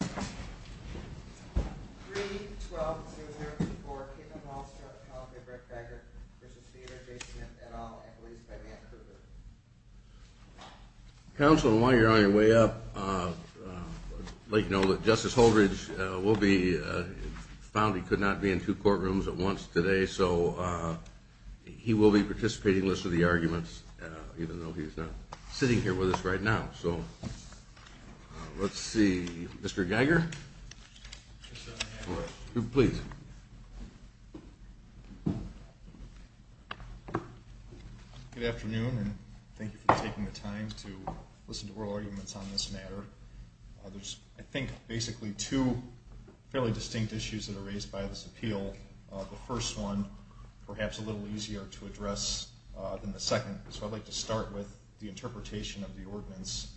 3, 12, 0, 0, 3, 4, Kittman, Wallstra, McConaughey, Breitbarger v. Smith v. Smith, et al., Equities by Mann, Kruger Geiger. Good afternoon and thank you for taking the time to listen to oral arguments on this matter. There's, I think, basically two fairly distinct issues that are raised by this appeal. The first one, perhaps a little easier to address than the second, so I'd like to start with the interpretation of the ordinance.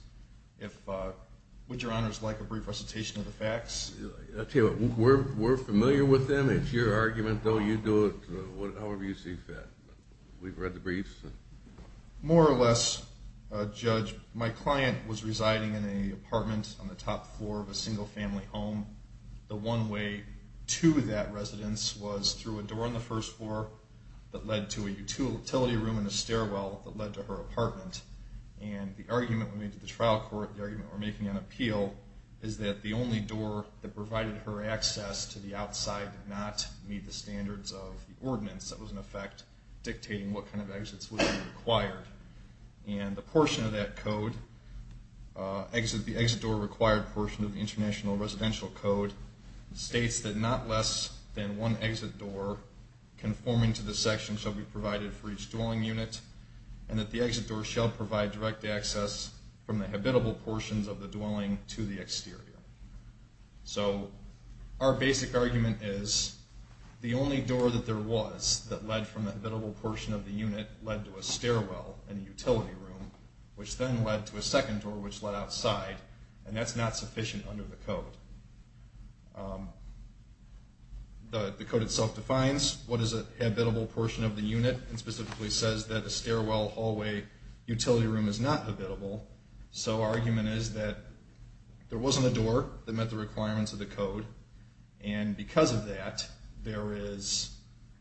Would your honors like a brief recitation of the facts? We're familiar with them. It's your argument, though. You do it however you see fit. We've read the briefs. More or less, Judge, my client was residing in an apartment on the top floor of a single family home. The one way to that residence was through a door on the first floor that led to a utility room and a stairwell that led to her apartment. And the argument we made to the trial court, the argument we're making on appeal, is that the only door that provided her access to the outside did not meet the standards of the ordinance. That was, in effect, dictating what kind of exits would be required. And the portion of that code, the exit door required portion of the International Residential Code, states that not less than one exit door conforming to the section shall be provided for each dwelling unit, and that the exit door shall provide direct access from the habitable portions of the dwelling to the exterior. So our basic argument is the only door that there was that led from the habitable portion of the unit led to a stairwell and a utility room, which then led to a second door which led outside, and that's not sufficient under the code. The code itself defines what is a habitable portion of the unit, and specifically says that a stairwell, hallway, utility room is not habitable. So our argument is that there wasn't a door that met the requirements of the code, and because of that, there is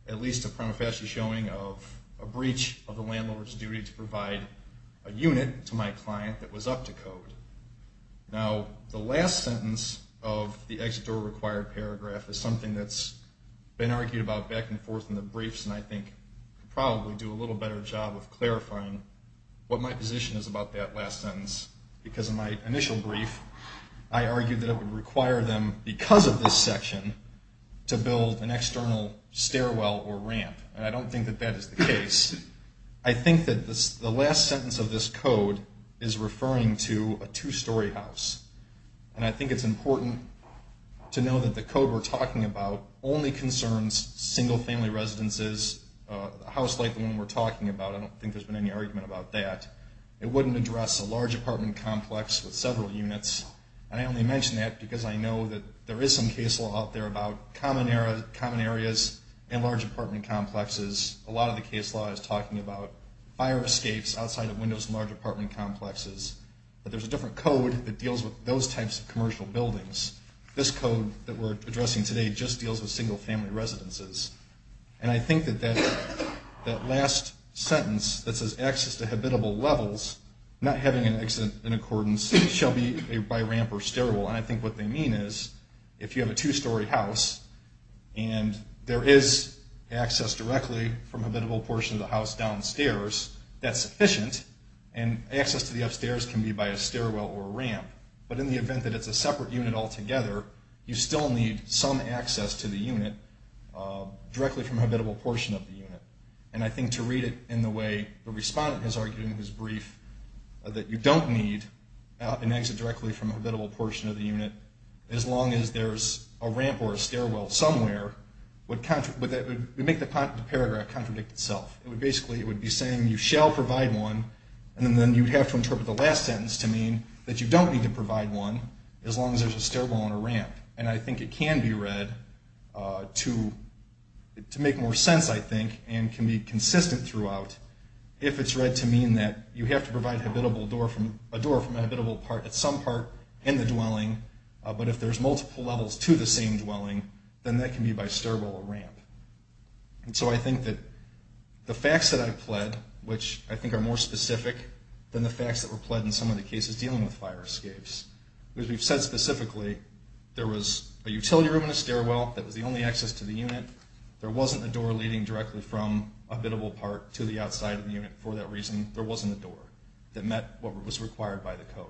at least a prima facie showing of a breach of the landlord's duty to provide a unit to my client that was up to code. Now, the last sentence of the exit door required paragraph is something that's been argued about back and forth in the briefs, and I think could probably do a little better job of clarifying what my position is about that last sentence. Because in my initial brief, I argued that it would require them, because of this section, to build an external stairwell or ramp, and I don't think that that is the case. I think that the last sentence of this code is referring to a two-story house, and I think it's important to know that the code we're talking about only concerns single-family residences, a house like the one we're talking about. I don't think there's been any argument about that. It wouldn't address a large apartment complex with several units, and I only mention that because I know that there is some case law out there about common areas and large apartment complexes. A lot of the case law is talking about fire escapes outside of windows in large apartment complexes, but there's a different code that deals with those types of commercial buildings. This code that we're addressing today just deals with single-family residences, and I think that that last sentence that says access to habitable levels, not having an exit in accordance, shall be by ramp or stairwell, and I think what they mean is if you have a two-story house and there is access directly from a habitable portion of the house downstairs, that's sufficient, and access to the upstairs can be by a stairwell or a ramp, but in the event that it's a separate unit altogether, you still need some access to the unit directly from a habitable portion of the unit, and I think to read it in the way the respondent has argued in his brief that you don't need an exit directly from a habitable portion of the unit as long as there's a ramp or a stairwell somewhere would make the paragraph contradict itself. It would basically be saying you shall provide one, and then you would have to interpret the last sentence to mean that you don't need to provide one as long as there's a stairwell and a ramp, and I think it can be read to make more sense, I think, and can be consistent throughout if it's read to mean that you have to provide a door from a habitable part at some part in the dwelling, but if there's multiple levels to the same dwelling, then that can be by stairwell or ramp, and so I think that the facts that I've pled, which I think are more specific than the facts that were pled in some of the cases dealing with fire escapes, because we've said specifically there was a utility room and a stairwell that was the only access to the unit, there wasn't a door leading directly from a habitable part to the outside of the unit for that reason, there wasn't a door that met what was required by the statute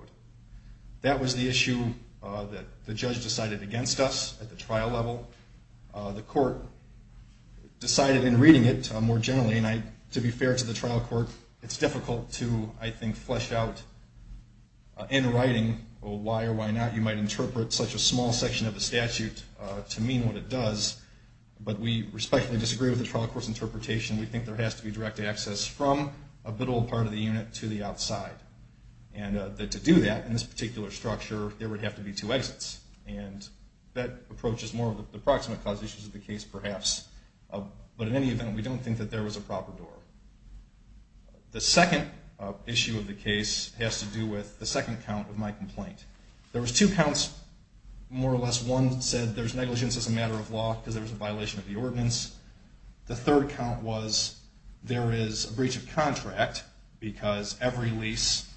at the trial level. The court decided in reading it more generally, and to be fair to the trial court, it's difficult to, I think, flesh out in writing why or why not you might interpret such a small section of the statute to mean what it does, but we respectfully disagree with the trial court's interpretation. We think there has to be direct access from a habitable part of the unit to the outside, and to do that in this particular structure, there would have to be two approaches, more of the proximate cause issues of the case, perhaps, but in any event, we don't think that there was a proper door. The second issue of the case has to do with the second count of my complaint. There was two counts, more or less, one said there's negligence as a matter of law because there was a violation of the ordinance. The third count was there is a breach of contract because every lease,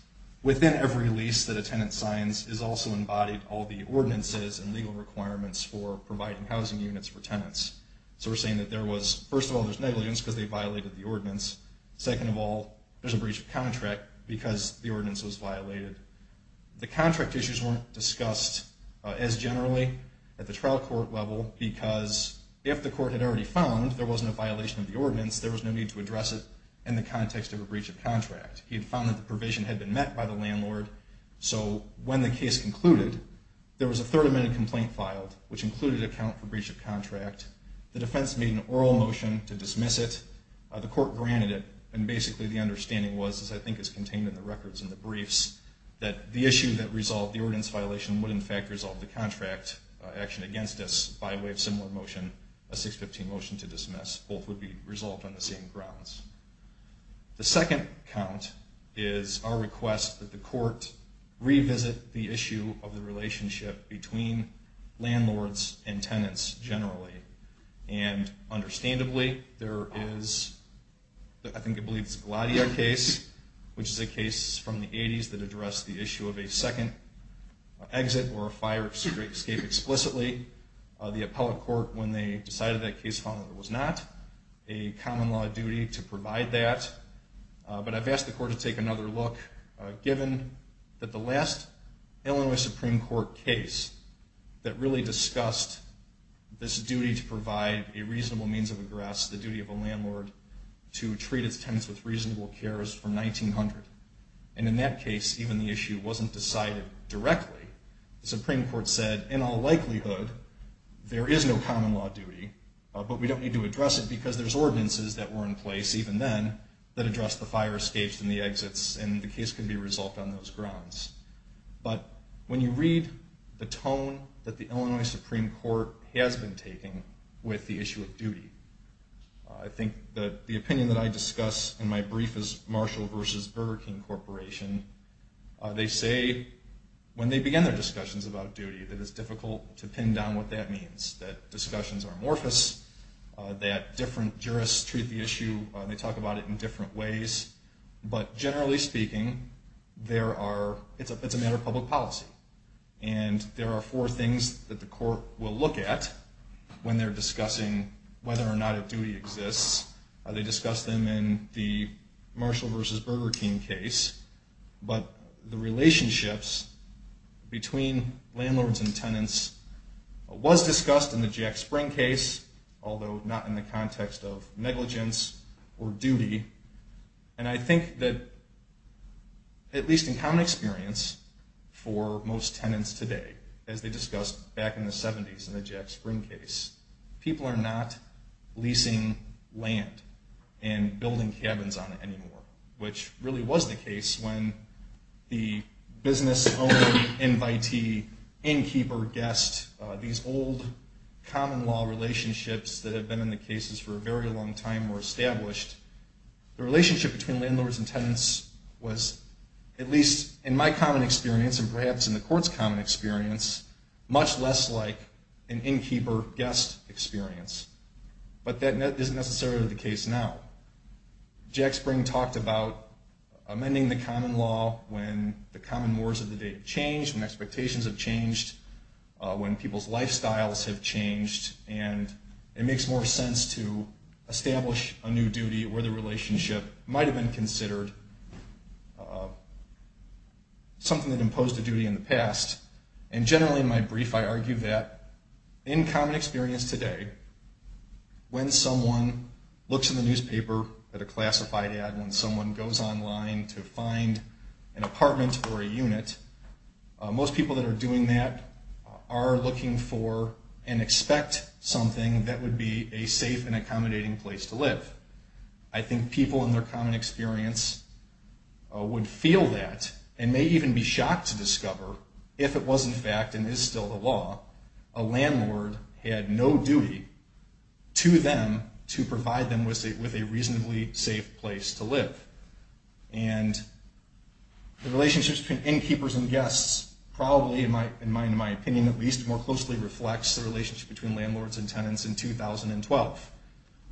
within every lease that a tenant signs, is also embodied all the ordinances and legal requirements for providing housing units for tenants. So we're saying that there was, first of all, there's negligence because they violated the ordinance. Second of all, there's a breach of contract because the ordinance was violated. The contract issues weren't discussed as generally at the trial court level because if the court had already found there wasn't a violation of the ordinance, there was no need to When the case concluded, there was a third amended complaint filed, which included a count for breach of contract. The defense made an oral motion to dismiss it. The court granted it, and basically the understanding was, as I think is contained in the records and the briefs, that the issue that resolved the ordinance violation would, in fact, resolve the contract action against us by way of similar motion, a 615 motion to dismiss. Both would be resolved on the same grounds. The second count is our request that the court revisit the issue of the relationship between landlords and tenants generally. And understandably, there is, I think it's the Gladier case, which is a case from the 80s that addressed the issue of a second exit or a fire escape explicitly. The appellate court, when they decided that case, found that it was not a common law duty to provide that. But I've asked the court to take another look, given that the last Illinois Supreme Court case that really discussed this duty to provide a reasonable means of egress, the duty of a landlord to treat its landlord. And in all likelihood, there is no common law duty, but we don't need to address it because there's ordinances that were in place even then that addressed the fire escapes and the exits, and the case can be resolved on those grounds. But when you read the tone that the Illinois Supreme Court has been taking with the issue of duty, I think that the opinion that I discuss in my brief is Marshall v. Burger King Corporation. They say when they begin their discussions about duty that it's difficult to pin down what that means, that discussions are amorphous, that different jurists treat the issue, they talk about it in different ways. But generally speaking, it's a matter of public policy. And there are four things that the court will look at when they're discussing whether or not a duty exists. They discuss them in the Marshall v. Burger King case, but the relationships between landlords and tenants was discussed in the Jack Spring case, although not in the context of negligence or duty. And I think that at least in common experience for most people in the Jack Spring case, people are not leasing land and building cabins on it anymore, which really was the case when the business owner, invitee, innkeeper, guest, these old common law relationships that have been in the cases for a very long time were established. The relationship between landlords and tenants was, at least in my common experience and perhaps in the court's common experience, much less like an innkeeper-guest experience. But that isn't necessarily the case now. Jack Spring talked about amending the common law when the common wars of the day have changed, when expectations have changed, when people's lifestyles have changed, and it makes more sense to establish a new duty where the relationship might have been considered something that imposed a duty in the past. And generally in my brief, I argue that in common experience today, when someone looks in the that are doing that are looking for and expect something that would be a safe and accommodating place to live. I think people in their common experience would feel that and may even be shocked to discover if it was in fact and is still the law, a landlord had no duty to them to provide them with a reasonably safe place to live. And the relationships between innkeepers and guests probably, in my opinion at least, more closely reflects the relationship between landlords and tenants in 2012,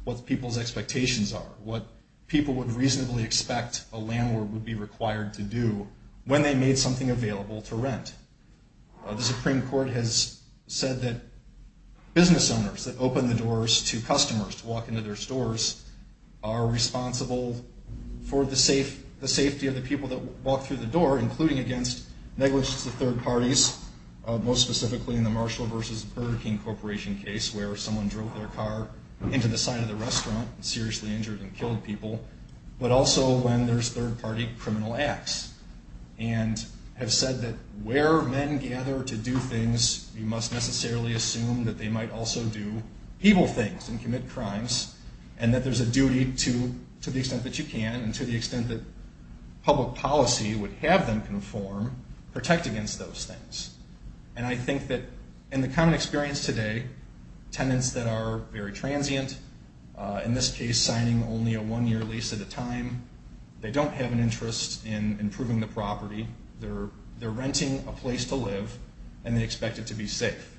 what people's expectations are, what people would reasonably expect a landlord would be required to do when they made something available to rent. The Supreme Court has said that business owners that open the doors to customers to walk into their stores are responsible for the safety of the people that walk through the door, including against negligence of third parties, most specifically in the Marshall versus Burger King corporation case where someone drove their car into the side of the restaurant and seriously injured and killed people, but also when there's third party criminal acts and have said that where men gather to do things, you must necessarily assume that they might also do evil things and commit crimes and that there's a duty to the extent that public policy would have them conform, protect against those things. And I think that in the common experience today, tenants that are very transient, in this case signing only a one-year lease at a time, they don't have an interest in improving the property. They're renting a place to live and they expect it to be safe.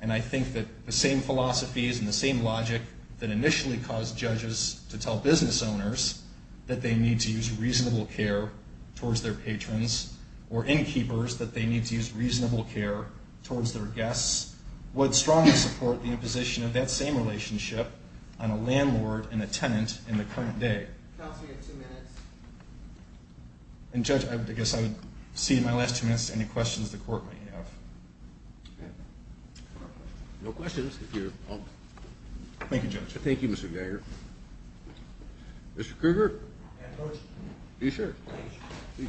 And I think that the same philosophies and the same logic that initially caused judges to tell business owners that they need to use reasonable care towards their patrons or innkeepers that they need to use reasonable care towards their guests would strongly support the imposition of that same relationship on a landlord and a tenant. No questions. Thank you, Judge. Thank you, Mr. Geiger. Mr. Krueger. May I approach? Yes, sir. Please.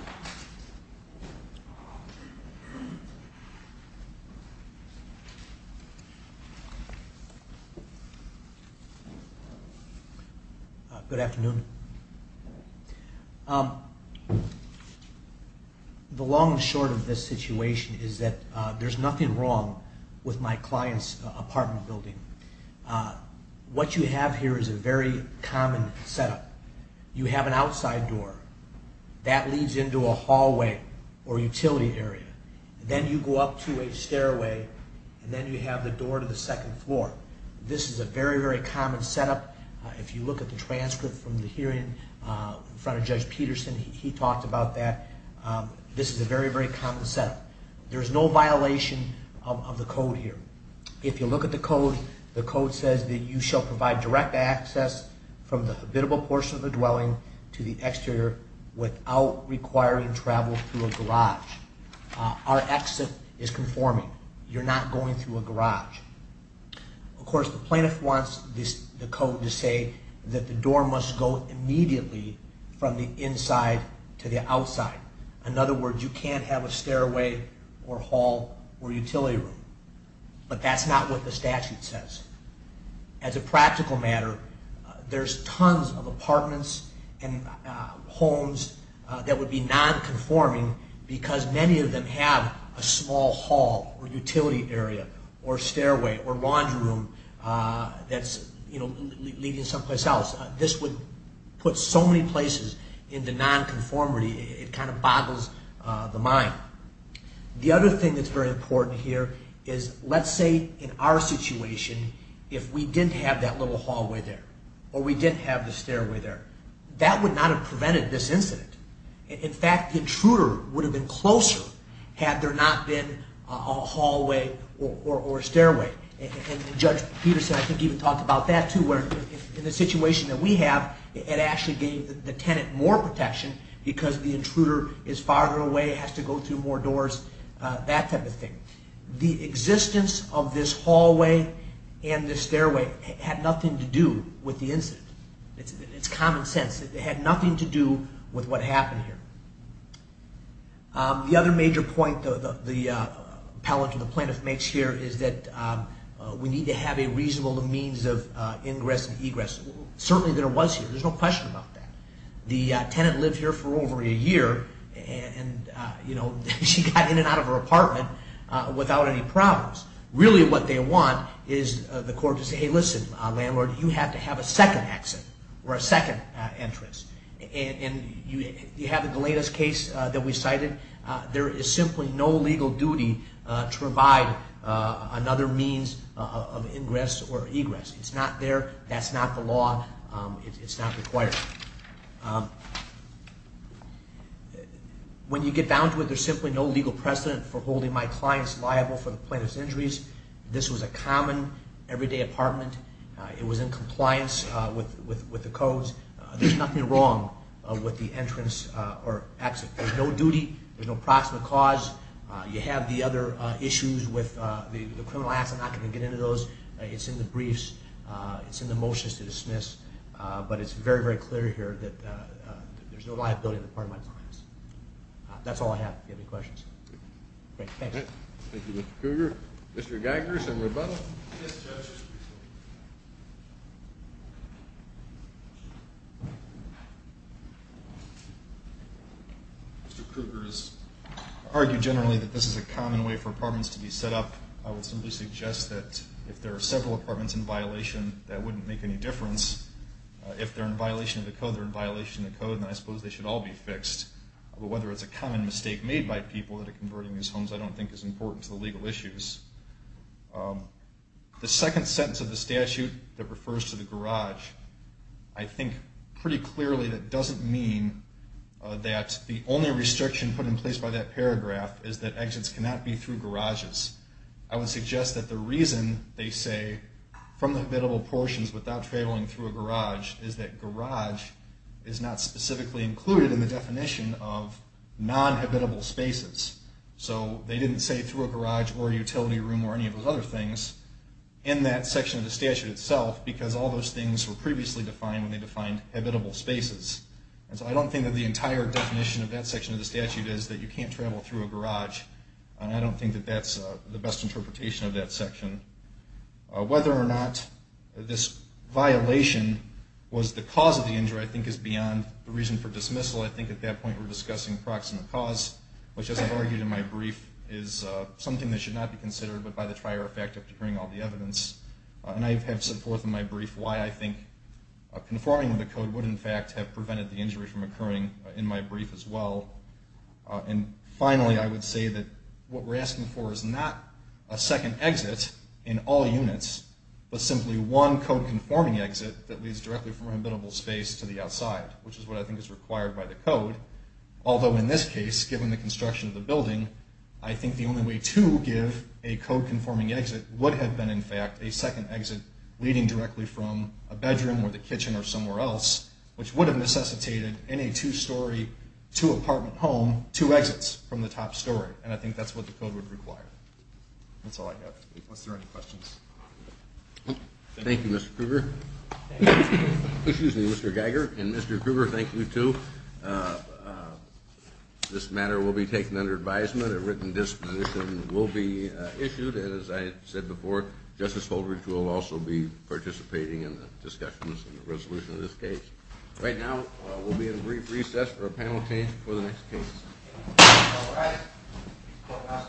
Good afternoon. The long and short of this situation is that there's nothing wrong with my client's apartment building. What you have here is a very common setup. You have an entrance to a hallway or utility area. Then you go up to a stairway and then you have the door to the second floor. This is a very, very common setup. If you look at the transcript from the hearing in front of Judge Peterson, he talked about that. This is a very, very common setup. There's no violation of the code here. If you look at the code, the code says that you shall provide direct access from the habitable portion of the dwelling to the exterior without requiring travel through a garage. Our exit is conforming. You're not going through a garage. Of course, the plaintiff wants the code to say that the door must go immediately from the inside to the outside. In other words, you can't have a stairway or hall or utility room. But that's not what the statute says. As a practical matter, there's tons of apartments and homes that would be non-conforming because many of them have a small hall or utility area or stairway or laundry room that's leading someplace else. This would put so many places into non-conformity, it kind of boggles the mind. The other thing that's very important here is, let's say, in our situation, if we didn't have that little hallway there or we didn't have the stairway there, that would not have prevented this incident. In fact, the intruder would have been closer had there not been a hallway or stairway. And Judge Peterson, I think, even talked about that, too, where in the situation that we have, it actually gave the tenant more protection because the intruder is farther away, has to go through a hallway or a stairway. That type of thing. The existence of this hallway and this stairway had nothing to do with the incident. It's common sense. It had nothing to do with what happened here. The other major point the appellant or the plaintiff makes here is that we need to have a reasonable means of ingress and egress. Certainly there was here. There's no question about that. The tenant lived here for over a year and she got in and out of her apartment without any problems. Really what they want is the court to say, hey, listen, landlord, you have to have a second exit or a second entrance. And you have in the latest case that we cited, there is simply no legal duty to provide another means of ingress or egress. It's not there. That's not the law. It's not required. When you get down to it, there's simply no legal precedent for holding my clients liable for the plaintiff's injuries. This was a common, everyday apartment. It was in compliance with the codes. There's nothing wrong with the entrance or exit. There's no duty. There's no proximate cause. You have the other issues with the criminal acts. I'm not going to get into those. It's in the briefs. It's in the motions to dismiss. But it's very, very clear here that there's no liability on the part of my clients. That's all I have if you have any questions. Mr. Kruger has argued generally that this is a common way for apartments to be set up. I would simply suggest that if there are several apartments in violation, that wouldn't make any difference. If they're in violation of the code, they're in violation of the code, then I suppose they should all be fixed. But whether it's a common mistake made by people that are converting these homes, I don't think is important to the legal issues. The second sentence of the statute that refers to the garage, I think pretty clearly that doesn't mean that the only restriction put in place by that paragraph is that exits cannot be through garages. I would suggest that the reason they say from the habitable portions without traveling through a garage is that garage is not specifically included in the definition of non-habitable spaces. So they didn't say through a garage or utility room or any of those other things in that section of the statute itself because all those things were previously defined when they defined habitable spaces. And so I don't think that the entire definition of that section of the statute is that you can't travel through a garage. And I don't think that that's the best interpretation of that section. Whether or not this violation was the cause of the injury, I think is beyond the reason for dismissal. I think at that point we're discussing proximate cause, which as I've argued in my brief is something that should not be considered but by the trier effect of hearing all the evidence. And I have said forth in my brief why I think conforming to the code would in fact have prevented the injury from occurring in my brief as well. And finally I would say that what we're asking for is not a second exit in all units, but simply one code conforming exit that leads directly from a habitable space to the outside, which is what I think is required by the code. Although in this case, given the construction of the building, I think the only way to give a code conforming exit would have been in fact a second exit leading directly from a bedroom or the kitchen or somewhere else, which would have necessitated in a two story, two apartment home, two exits from the top story. And I think that's what the code would require. That's all I have. Thank you, Mr. Krueger. Excuse me, Mr. Geiger and Mr. Krueger, thank you too. This matter will be taken under advisement. A written disposition will be issued and as I said before, Justice Holdridge will also be participating in the discussions and the resolution of this case. Right now we'll be at a brief recess for a panel change before the next case.